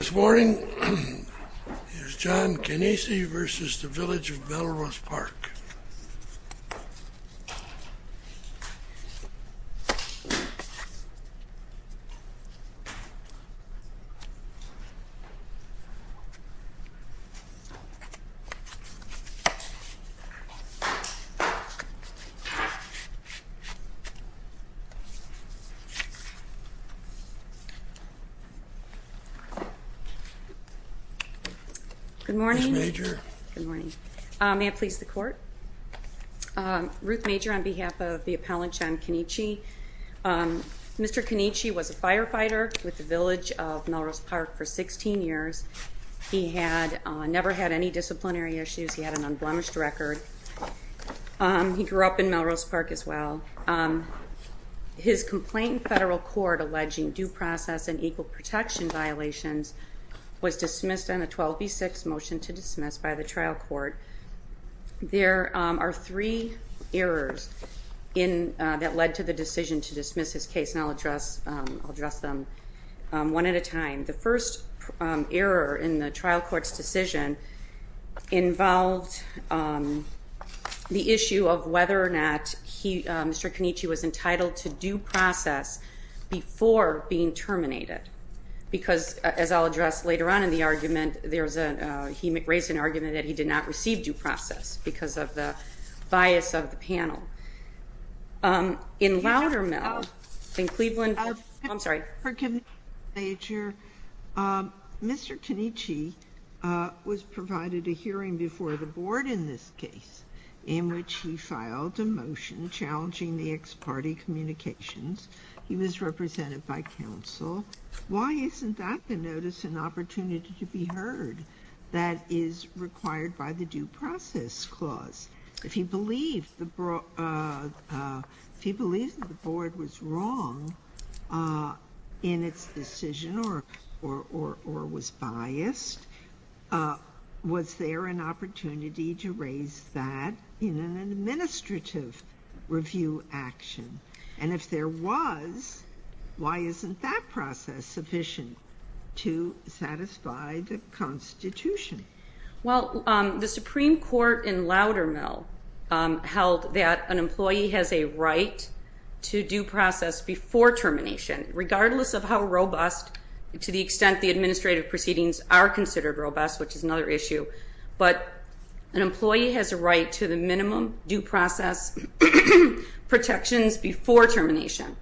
This morning is John Cannici v. Village of Melrose Park Good morning. May I please the court? Ruth Major on behalf of the appellant John Cannici. Mr. Cannici was a firefighter with the Village of Melrose Park for 16 years. He never had any disciplinary issues. He had an unblemished record. He grew up in Melrose Park as well. His complaint in federal court alleging due process and equal protection violations was dismissed on a 12 v. 6 motion to dismiss by the trial court. There are three errors that led to the decision to dismiss his case. And I'll address them one at a time. The first error in the trial court's decision involved the issue of whether or not Mr. Cannici was entitled to due process before being terminated. Because, as I'll address later on in the argument, he raised an argument that he did not receive due process because of the bias of the panel. In Loudermill, in Cleveland, I'm sorry. Ruth Major, Mr. Cannici was provided a hearing before the board in this case in which he filed a motion challenging the ex parte communications. He was represented by counsel. Why isn't that the notice and opportunity to be heard that is required by the due process clause? If he believed that the board was wrong in its decision or was biased, was there an opportunity to raise that in an administrative review action? And if there was, why isn't that process sufficient to satisfy the Constitution? Well, the Supreme Court in Loudermill held that an employee has a right to due process before termination, regardless of how robust, to the extent the administrative proceedings are considered robust, which is another issue. But an employee has a right to the minimum due process protections before termination.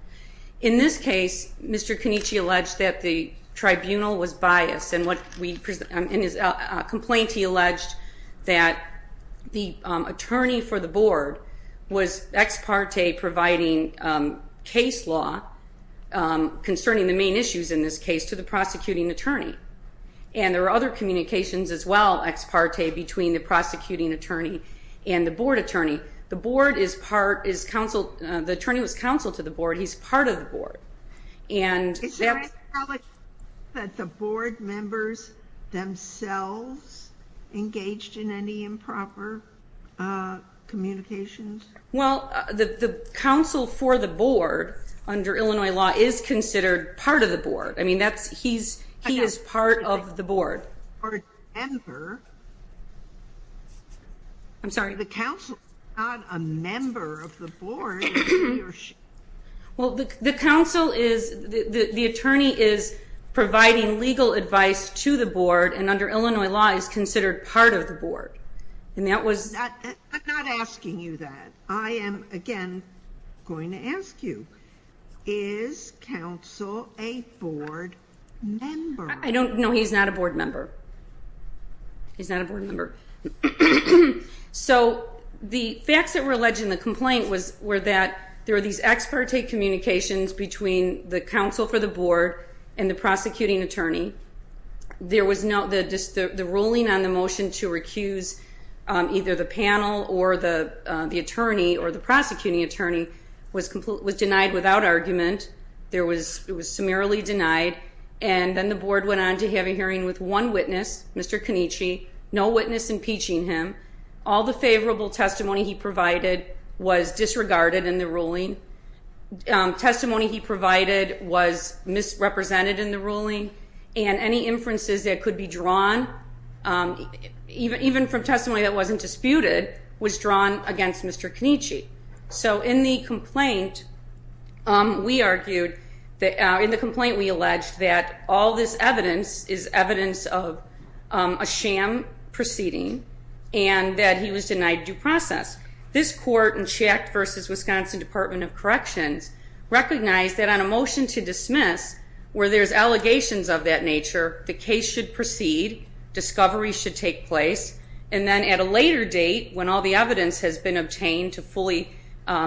In this case, Mr. Cannici alleged that the tribunal was biased and in his complaint he alleged that the attorney for the board was ex parte providing case law concerning the main issues in this case to the prosecuting attorney. And there are other communications as well, ex parte, between the prosecuting attorney and the board attorney. The attorney was counsel to the board. He's part of the board. Is there any knowledge that the board members themselves engaged in any improper communications? Well, the counsel for the board, under Illinois law, is considered part of the board. I mean, he is part of the board. Or a member. I'm sorry? The counsel is not a member of the board. Well, the counsel is, the attorney is providing legal advice to the board and under Illinois law is considered part of the board. I'm not asking you that. I am, again, going to ask you, is counsel a board member? No, he's not a board member. He's not a board member. So the facts that were alleged in the complaint were that there were these ex parte communications between the counsel for the board and the prosecuting attorney. The ruling on the motion to recuse either the panel or the attorney or the prosecuting attorney was denied without argument. It was summarily denied. And then the board went on to have a hearing with one witness, Mr. Canici, no witness impeaching him. All the favorable testimony he provided was disregarded in the ruling. Testimony he provided was misrepresented in the ruling. And any inferences that could be drawn, even from testimony that wasn't disputed, was drawn against Mr. Canici. and that he was denied due process. This court in Schacht v. Wisconsin Department of Corrections recognized that on a motion to dismiss where there's allegations of that nature, the case should proceed, discovery should take place, and then at a later date, when all the evidence has been obtained to fully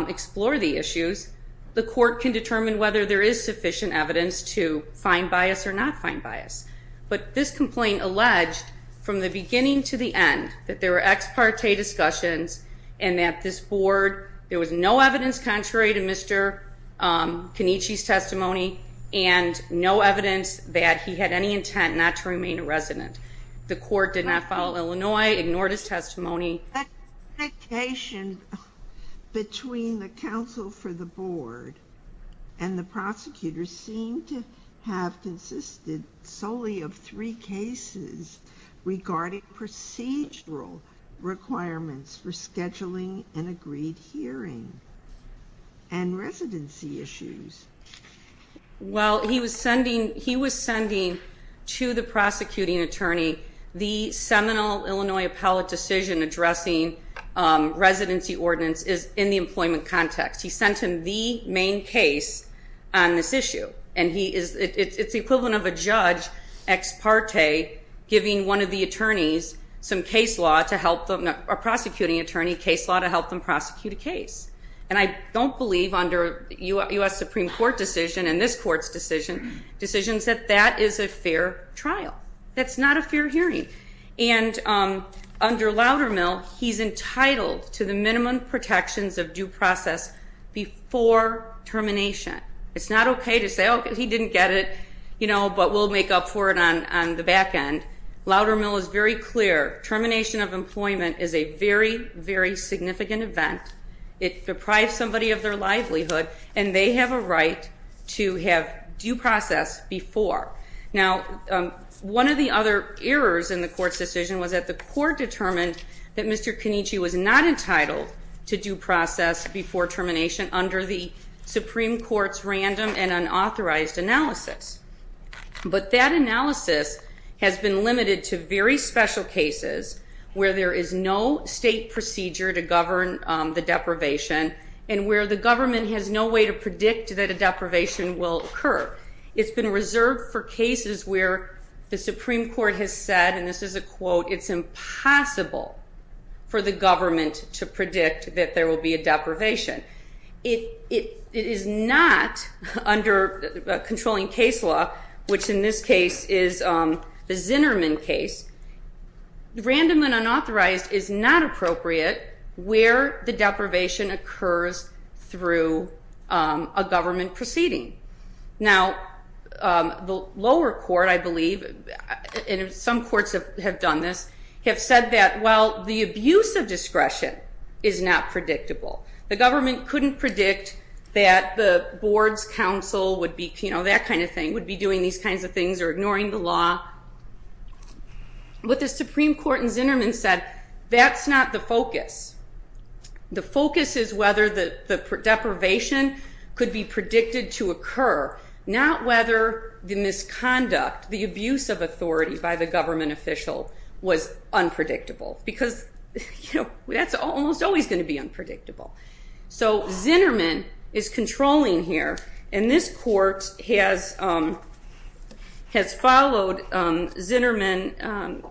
explore the issues, the court can determine whether there is sufficient evidence to find bias or not find bias. But this complaint alleged, from the beginning to the end, that there were ex parte discussions and that this board, there was no evidence contrary to Mr. Canici's testimony and no evidence that he had any intent not to remain a resident. The court did not follow Illinois, ignored his testimony. That communication between the counsel for the board and the prosecutors seemed to have consisted solely of three cases regarding procedural requirements for scheduling an agreed hearing and residency issues. Well, he was sending to the prosecuting attorney the seminal Illinois appellate decision addressing residency ordinance in the employment context. He sent him the main case on this issue, and it's the equivalent of a judge ex parte giving one of the attorneys some case law to help them, a prosecuting attorney, case law to help them prosecute a case. And I don't believe, under a U.S. Supreme Court decision and this court's decision, decisions that that is a fair trial. That's not a fair hearing. And under Loudermill, he's entitled to the minimum protections of due process before termination. It's not okay to say, oh, he didn't get it, you know, but we'll make up for it on the back end. Loudermill is very clear. Termination of employment is a very, very significant event. It deprives somebody of their livelihood, and they have a right to have due process before. Now, one of the other errors in the court's decision was that the court determined that Mr. Canici was not entitled to due process before termination under the Supreme Court's random and unauthorized analysis. But that analysis has been limited to very special cases where there is no state procedure to govern the deprivation and where the government has no way to predict that a deprivation will occur. It's been reserved for cases where the Supreme Court has said, and this is a quote, it's impossible for the government to predict that there will be a deprivation. It is not, under controlling case law, which in this case is the Zinnerman case, random and unauthorized is not appropriate where the deprivation occurs through a government proceeding. Now, the lower court, I believe, and some courts have done this, have said that, well, the abuse of discretion is not predictable. The government couldn't predict that the board's counsel would be, you know, that kind of thing, would be doing these kinds of things or ignoring the law. What the Supreme Court in Zinnerman said, that's not the focus. The focus is whether the deprivation could be predicted to occur, not whether the misconduct, the abuse of authority, by the government official was unpredictable because that's almost always going to be unpredictable. So Zinnerman is controlling here, and this court has followed Zinnerman,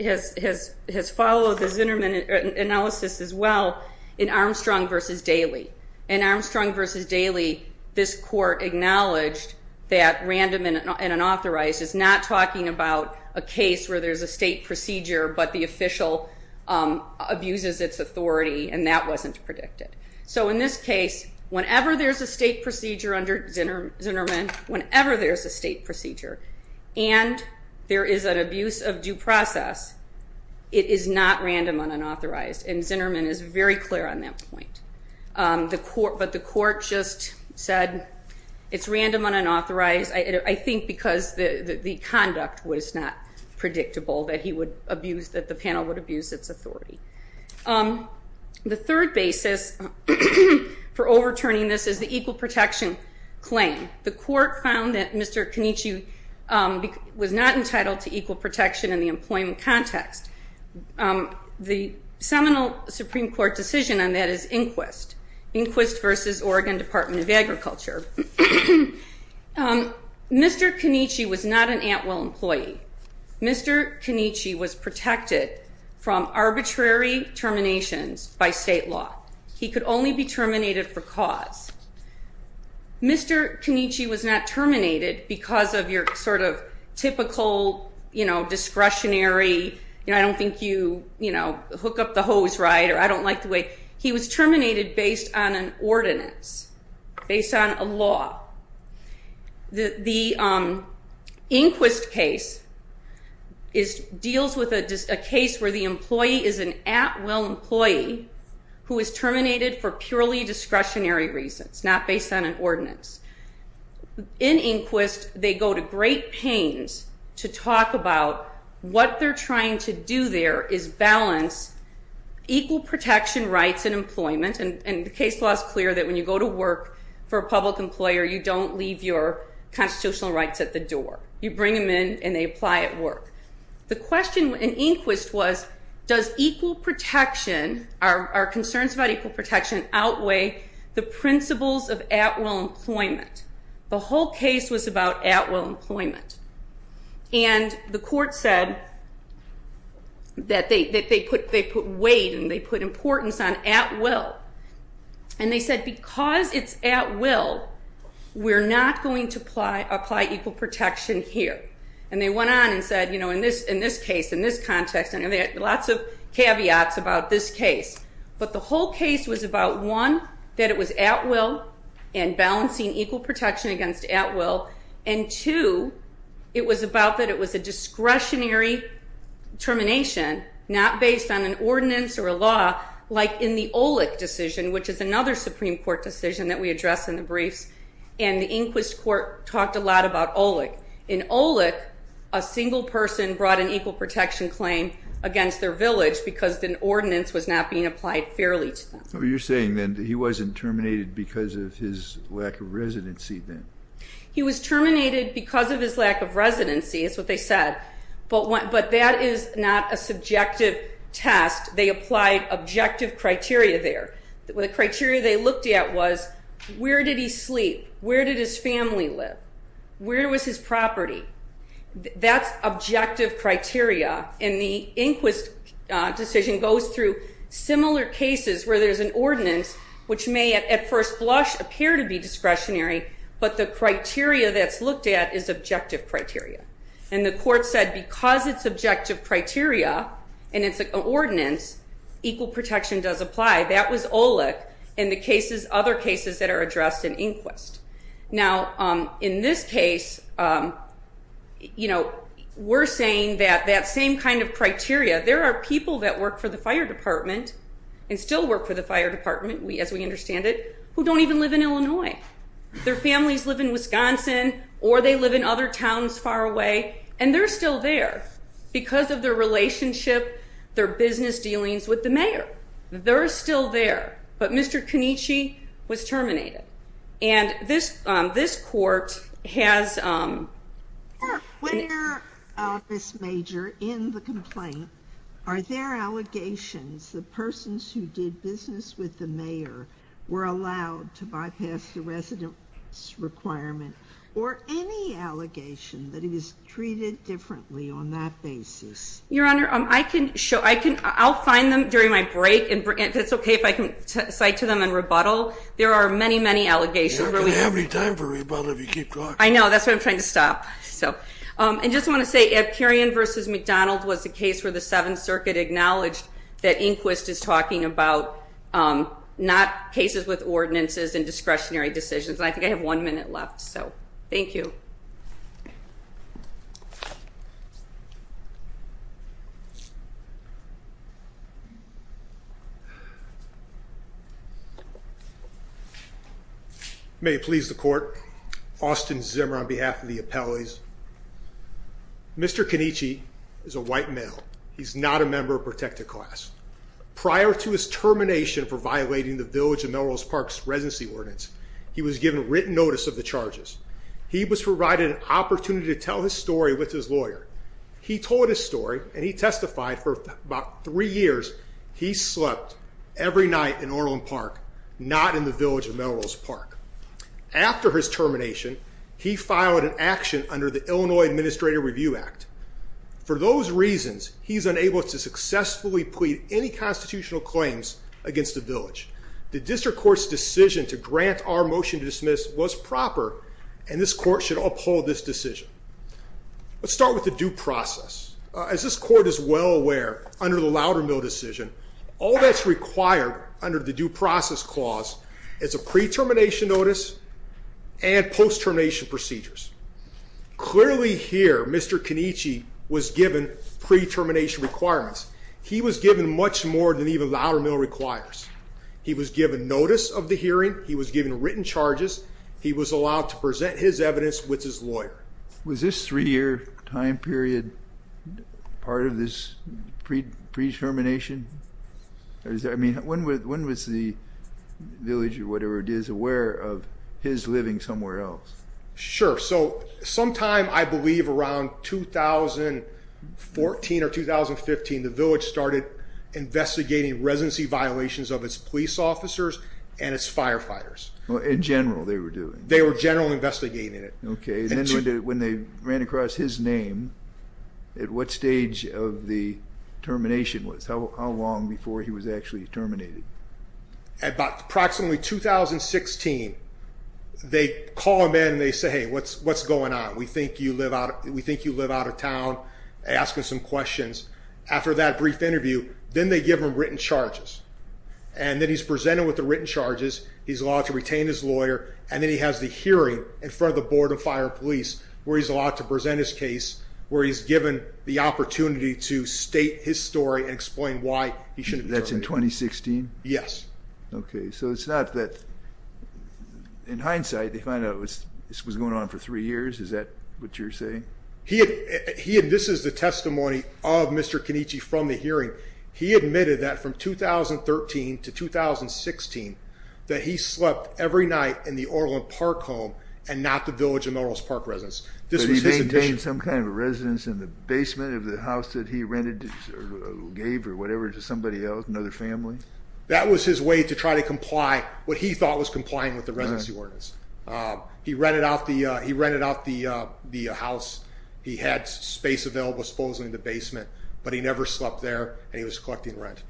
has followed the Zinnerman analysis as well in Armstrong v. Daly. In Armstrong v. Daly, this court acknowledged that random and unauthorized is not talking about a case where there's a state procedure, but the official abuses its authority, and that wasn't predicted. So in this case, whenever there's a state procedure under Zinnerman, whenever there's a state procedure, and there is an abuse of due process, it is not random and unauthorized, and Zinnerman is very clear on that point. But the court just said it's random and unauthorized, I think, because the conduct was not predictable, that the panel would abuse its authority. The third basis for overturning this is the equal protection claim. The court found that Mr. Canicci was not entitled to equal protection in the employment context. The seminal Supreme Court decision on that is Inquist, Inquist v. Oregon Department of Agriculture. Mr. Canicci was not an Atwell employee. Mr. Canicci was protected from arbitrary terminations by state law. He could only be terminated for cause. Mr. Canicci was not terminated because of your sort of typical discretionary, I don't think you hook up the hose right, or I don't like the way. He was terminated based on an ordinance, based on a law. The Inquist case deals with a case where the employee is an Atwell employee who is terminated for purely discretionary reasons, not based on an ordinance. In Inquist, they go to great pains to talk about what they're trying to do there is balance equal protection rights in employment, and the case law is clear that when you go to work for a public employer, you don't leave your constitutional rights at the door. You bring them in and they apply at work. The question in Inquist was does equal protection, are concerns about equal protection outweigh the principles of Atwell employment? The whole case was about Atwell employment, and the court said that they put weight and they put importance on Atwill, and they said because it's Atwill, we're not going to apply equal protection here, and they went on and said in this case, in this context, and they had lots of caveats about this case, but the whole case was about one, that it was Atwell and balancing equal protection against Atwell, and two, it was about that it was a discretionary termination, not based on an ordinance or a law like in the OLEC decision, which is another Supreme Court decision that we address in the briefs, and the Inquist court talked a lot about OLEC. In OLEC, a single person brought an equal protection claim against their village because an ordinance was not being applied fairly to them. So you're saying then that he wasn't terminated because of his lack of residency then? He was terminated because of his lack of residency is what they said, but that is not a subjective test. They applied objective criteria there. The criteria they looked at was where did he sleep? Where did his family live? Where was his property? That's objective criteria, and the Inquist decision goes through similar cases where there's an ordinance which may at first blush appear to be discretionary, but the criteria that's looked at is objective criteria, and the court said because it's objective criteria and it's an ordinance, equal protection does apply. That was OLEC and the other cases that are addressed in Inquist. Now, in this case, you know, we're saying that that same kind of criteria, there are people that work for the fire department and still work for the fire department, as we understand it, who don't even live in Illinois. Their families live in Wisconsin or they live in other towns far away, and they're still there because of their relationship, their business dealings with the mayor. They're still there, but Mr. Connici was terminated, and this court has... Where, Ms. Major, in the complaint are there allegations that persons who did business with the mayor were allowed to bypass the residence requirement or any allegation that he was treated differently on that basis? Your Honor, I can show. I'll find them during my break, and it's okay if I can cite to them and rebuttal. There are many, many allegations. You don't have any time for rebuttal if you keep talking. I know. That's why I'm trying to stop. And I just want to say Epkirian v. McDonald was the case where the Seventh Circuit acknowledged that Inquist is talking about not cases with ordinances and discretionary decisions, and I think I have one minute left, so thank you. May it please the court. Austin Zimmer on behalf of the appellees. Mr. Connici is a white male. He's not a member of protected class. Prior to his termination for violating the Village of Melrose Park's residency ordinance, he was given written notice of the charges. He was provided an opportunity to tell his story with his lawyer. He told his story, and he testified for about three years. He slept every night in Orland Park, not in the Village of Melrose Park. After his termination, he filed an action under the Illinois Administrative Review Act. For those reasons, he's unable to successfully plead any constitutional claims against the Village. The district court's decision to grant our motion to dismiss was proper, and this court should uphold this decision. Let's start with the due process. As this court is well aware, under the Loudermill decision, all that's required under the due process clause is a pre-termination notice and post-termination procedures. Clearly here, Mr. Connici was given pre-termination requirements. He was given much more than even Loudermill requires. He was given notice of the hearing. He was given written charges. He was allowed to present his evidence with his lawyer. Was this three-year time period part of this pre-termination? When was the Village, or whatever it is, aware of his living somewhere else? Sure. Sometime, I believe, around 2014 or 2015, the Village started investigating residency violations of its police officers and its firefighters. In general, they were doing? They were generally investigating it. When they ran across his name, at what stage of the termination was? How long before he was actually terminated? Approximately 2016. They call him in and they say, hey, what's going on? We think you live out of town. They ask him some questions. After that brief interview, then they give him written charges. Then he's presented with the written charges. He's allowed to retain his lawyer, and then he has the hearing in front of the Board of Fire and Police where he's allowed to present his case, where he's given the opportunity to state his story and explain why he shouldn't have been terminated. That's in 2016? Yes. Okay. So it's not that, in hindsight, they find out this was going on for three years? Is that what you're saying? This is the testimony of Mr. Kenichi from the hearing. He admitted that from 2013 to 2016, that he slept every night in the Orland Park home and not the Village of Melrose Park residence. But he maintained some kind of residence in the basement of the house that he rented or gave or whatever to somebody else, another family? That was his way to try to comply what he thought was complying with the residency ordinance. He rented out the house. He had space available, supposedly, in the basement, but he never slept there, and he was collecting rent.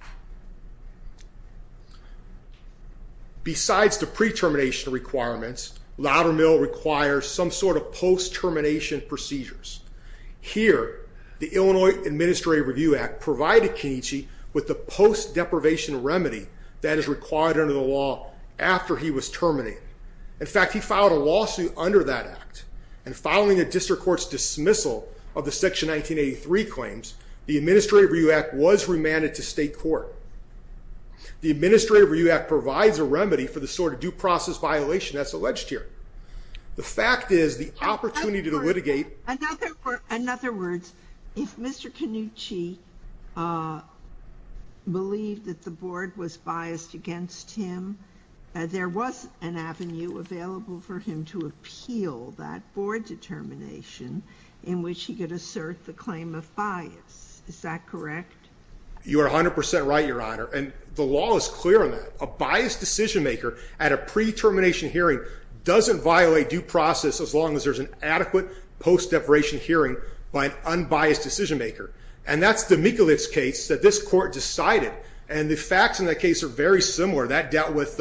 Besides the pre-termination requirements, Loudermill requires some sort of post-termination procedures. Here, the Illinois Administrative Review Act provided Kenichi with the post-deprivation remedy that is required under the law after he was terminated. In fact, he filed a lawsuit under that act, and following a district court's dismissal of the Section 1983 claims, the Administrative Review Act was remanded to state court. The Administrative Review Act provides a remedy for the sort of due process violation that's alleged here. The fact is the opportunity to litigate... In other words, if Mr. Kenichi believed that the board was biased against him, there was an avenue available for him to appeal that board determination in which he could assert the claim of bias. Is that correct? You are 100% right, Your Honor. And the law is clear on that. A biased decision-maker at a pre-termination hearing doesn't violate due process as long as there's an adequate post-deprivation hearing by an unbiased decision-maker. And that's the Mikulich case that this court decided, and the facts in that case are very similar. That dealt with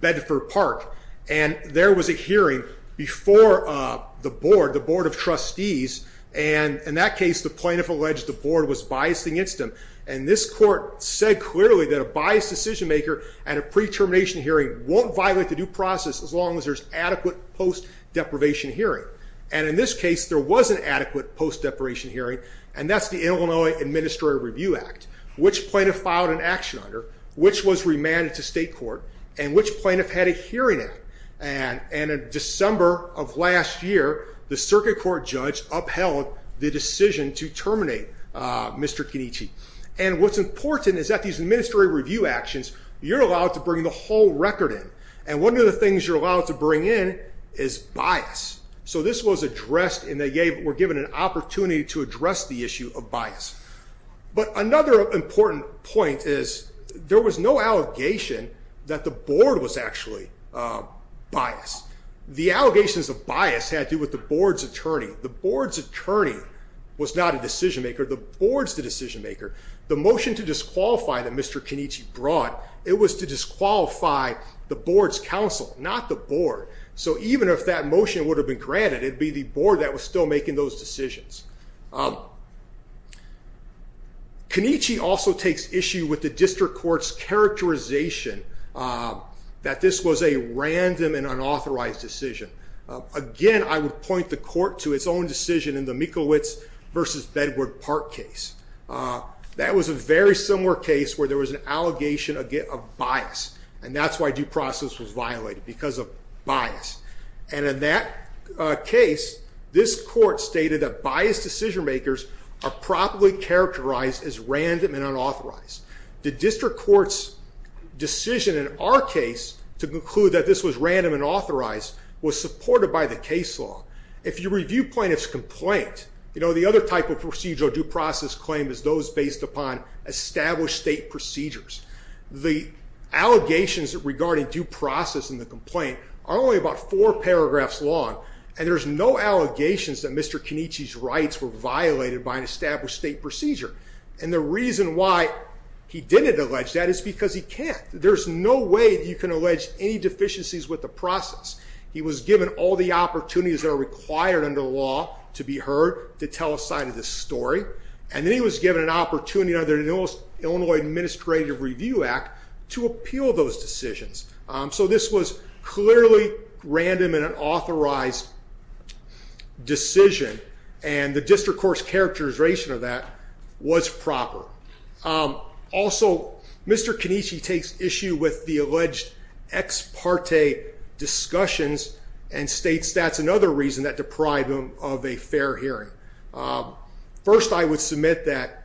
Bedford Park, and there was a hearing before the board, the board of trustees, and in that case, the plaintiff alleged the board was biased against him. And this court said clearly that a biased decision-maker at a pre-termination hearing won't violate the due process as long as there's adequate post-deprivation hearing. And in this case, there was an adequate post-deprivation hearing, and that's the Illinois Administrative Review Act, which plaintiff filed an action under, which was remanded to state court, and which plaintiff had a hearing act. And in December of last year, the circuit court judge upheld the decision to terminate Mr. Kenichi. And what's important is that these administrative review actions, you're allowed to bring the whole record in. And one of the things you're allowed to bring in is bias. So this was addressed, and they were given an opportunity to address the issue of bias. But another important point is there was no allegation that the board was actually biased. The allegations of bias had to do with the board's attorney. The board's attorney was not a decision-maker. The board's the decision-maker. The motion to disqualify that Mr. Kenichi brought, it was to disqualify the board's counsel, not the board. So even if that motion would have been granted, it would be the board that was still making those decisions. Kenichi also takes issue with the district court's characterization that this was a random and unauthorized decision. Again, I would point the court to its own decision in the Mikowitz v. Bedward Park case. That was a very similar case where there was an allegation of bias. And that's why due process was violated, because of bias. And in that case, this court stated that biased decision-makers are properly characterized as random and unauthorized. The district court's decision in our case to conclude that this was random and authorized was supported by the case law. If you review plaintiff's complaint, the other type of procedural due process claim is those based upon established state procedures. The allegations regarding due process in the complaint are only about four paragraphs long, and there's no allegations that Mr. Kenichi's rights were violated by an established state procedure. And the reason why he didn't allege that is because he can't. There's no way you can allege any deficiencies with the process. He was given all the opportunities that are required under law to be heard to tell a side of this story, and then he was given an opportunity under the Illinois Administrative Review Act to appeal those decisions. So this was clearly random and unauthorized decision, and the district court's characterization of that was proper. Also, Mr. Kenichi takes issue with the alleged ex parte discussions and states that's another reason that deprived him of a fair hearing. First, I would submit that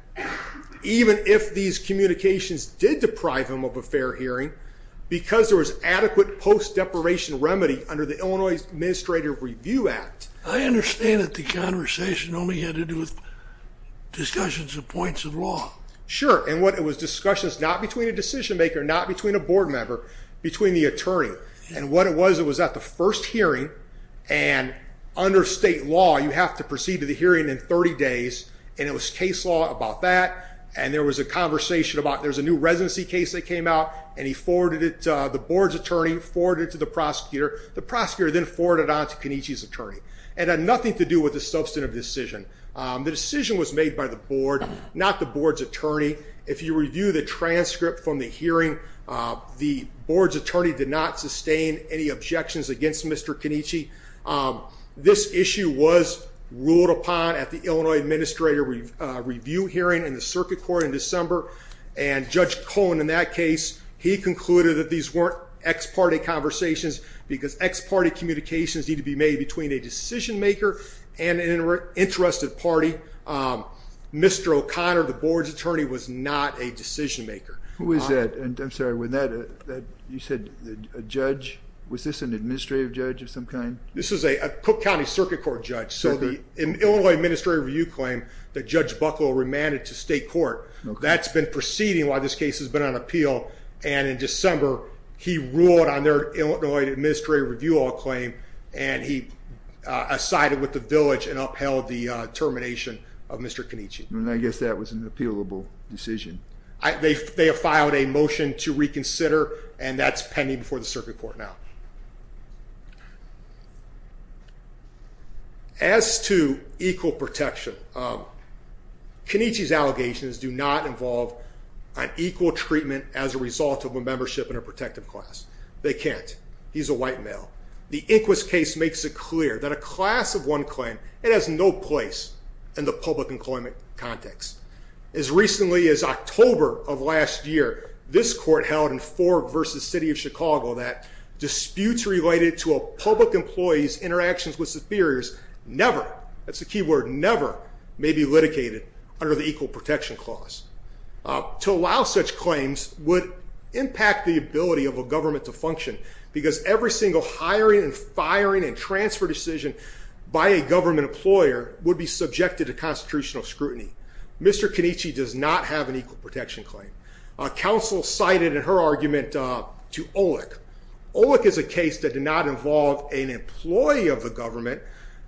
even if these communications did deprive him of a fair hearing, because there was adequate post-deprivation remedy under the Illinois Administrative Review Act... I understand that the conversation only had to do with discussions and points of law. Sure, and what it was discussions not between a decision maker, not between a board member, between the attorney. And what it was, it was at the first hearing, and under state law you have to proceed to the hearing in 30 days, and it was case law about that, and there was a conversation about there's a new residency case that came out, and he forwarded it to the board's attorney, forwarded it to the prosecutor. The prosecutor then forwarded it on to Kenichi's attorney. It had nothing to do with the substantive decision. The decision was made by the board, not the board's attorney. If you review the transcript from the hearing, the board's attorney did not sustain any objections against Mr. Kenichi. This issue was ruled upon at the Illinois Administrative Review hearing in the circuit court in December, and Judge Cohen in that case, he concluded that these weren't ex parte conversations because ex parte communications need to be made between a decision maker and an interested party. Mr. O'Connor, the board's attorney, was not a decision maker. Who is that? I'm sorry, you said a judge? Was this an administrative judge of some kind? This is a Cook County Circuit Court judge, so the Illinois Administrative Review claimed that Judge Buckle remanded to state court. That's been proceeding while this case has been on appeal, and in December he ruled on their Illinois Administrative Review all claim and he sided with the village and upheld the termination of Mr. Kenichi. I guess that was an appealable decision. They have filed a motion to reconsider, and that's pending before the circuit court now. As to equal protection, Kenichi's allegations do not involve an equal treatment as a result of a membership in a protective class. They can't. He's a white male. The Inquis case makes it clear that a class of one claim, it has no place in the public employment context. As recently as October of last year, this court held in Ford v. City of Chicago that disputes related to a public employee's interactions with superiors never, that's the key word, never may be litigated under the equal protection clause. To allow such claims would impact the ability of a government to function because every single hiring and firing and transfer decision by a government employer would be subjected to constitutional scrutiny. Mr. Kenichi does not have an equal protection claim. Counsel cited in her argument to Olick. Olick is a case that did not involve an employee of the government.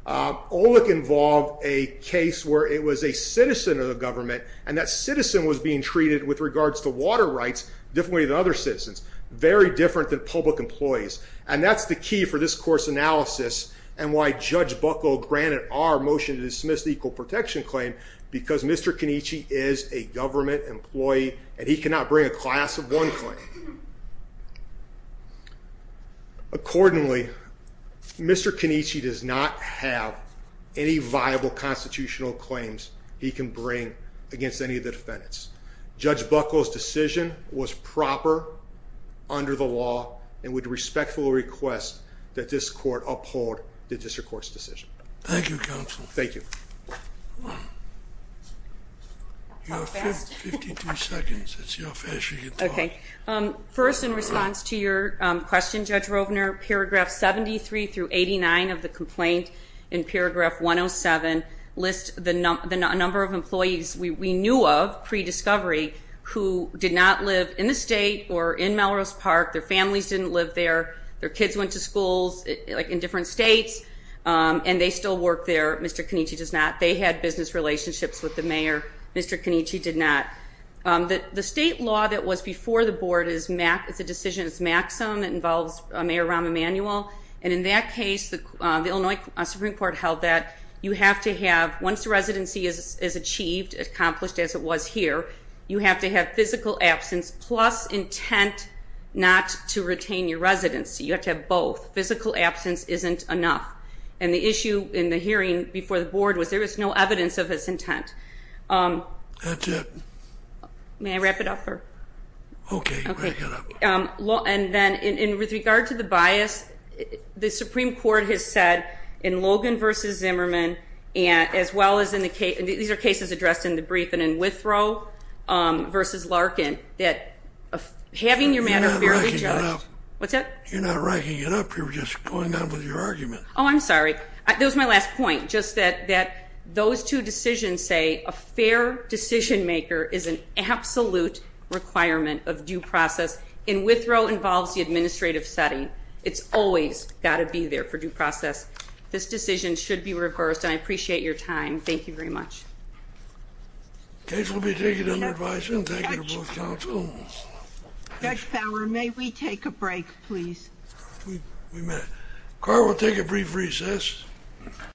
Olick involved a case where it was a citizen of the government, and that citizen was being treated with regards to water rights differently than other citizens, very different than public employees. And that's the key for this course analysis and why Judge Buckle granted our motion to dismiss the equal protection claim because Mr. Kenichi is a government employee and he cannot bring a class of one claim. Accordingly, Mr. Kenichi does not have any viable constitutional claims he can bring against any of the defendants. Judge Buckle's decision was proper under the law and would respectfully request that this court uphold the district court's decision. Thank you, counsel. Thank you. You have 52 seconds. Okay. First, in response to your question, Judge Rovner, paragraph 73 through 89 of the complaint in paragraph 107 lists the number of employees we knew of pre-discovery who did not live in the state or in Melrose Park. Their families didn't live there. Their kids went to schools in different states, and they still work there. Mr. Kenichi does not. They had business relationships with the mayor. Mr. Kenichi did not. The state law that was before the board is a decision that's maxim that involves Mayor Rahm Emanuel, and in that case the Illinois Supreme Court held that you have to have, once the residency is achieved, accomplished as it was here, you have to have physical absence plus intent not to retain your residency. You have to have both. Physical absence isn't enough. And the issue in the hearing before the board was there was no evidence of this intent. May I wrap it up? Okay, wrap it up. And then with regard to the bias, the Supreme Court has said in Logan v. Zimmerman, as well as in the case, these are cases addressed in the brief, and in Withrow v. Larkin, that having your matter fairly judged. You're not racking it up. What's that? You're not racking it up. You're just going on with your argument. Oh, I'm sorry. That was my last point, just that those two decisions say a fair decision-maker is an absolute requirement of due process, and Withrow involves the administrative setting. It's always got to be there for due process. This decision should be reversed, and I appreciate your time. Thank you very much. The case will be taken under advisement. Thank you to both counsels. Judge Fowler, may we take a break, please? We may. Carl, we'll take a brief recess.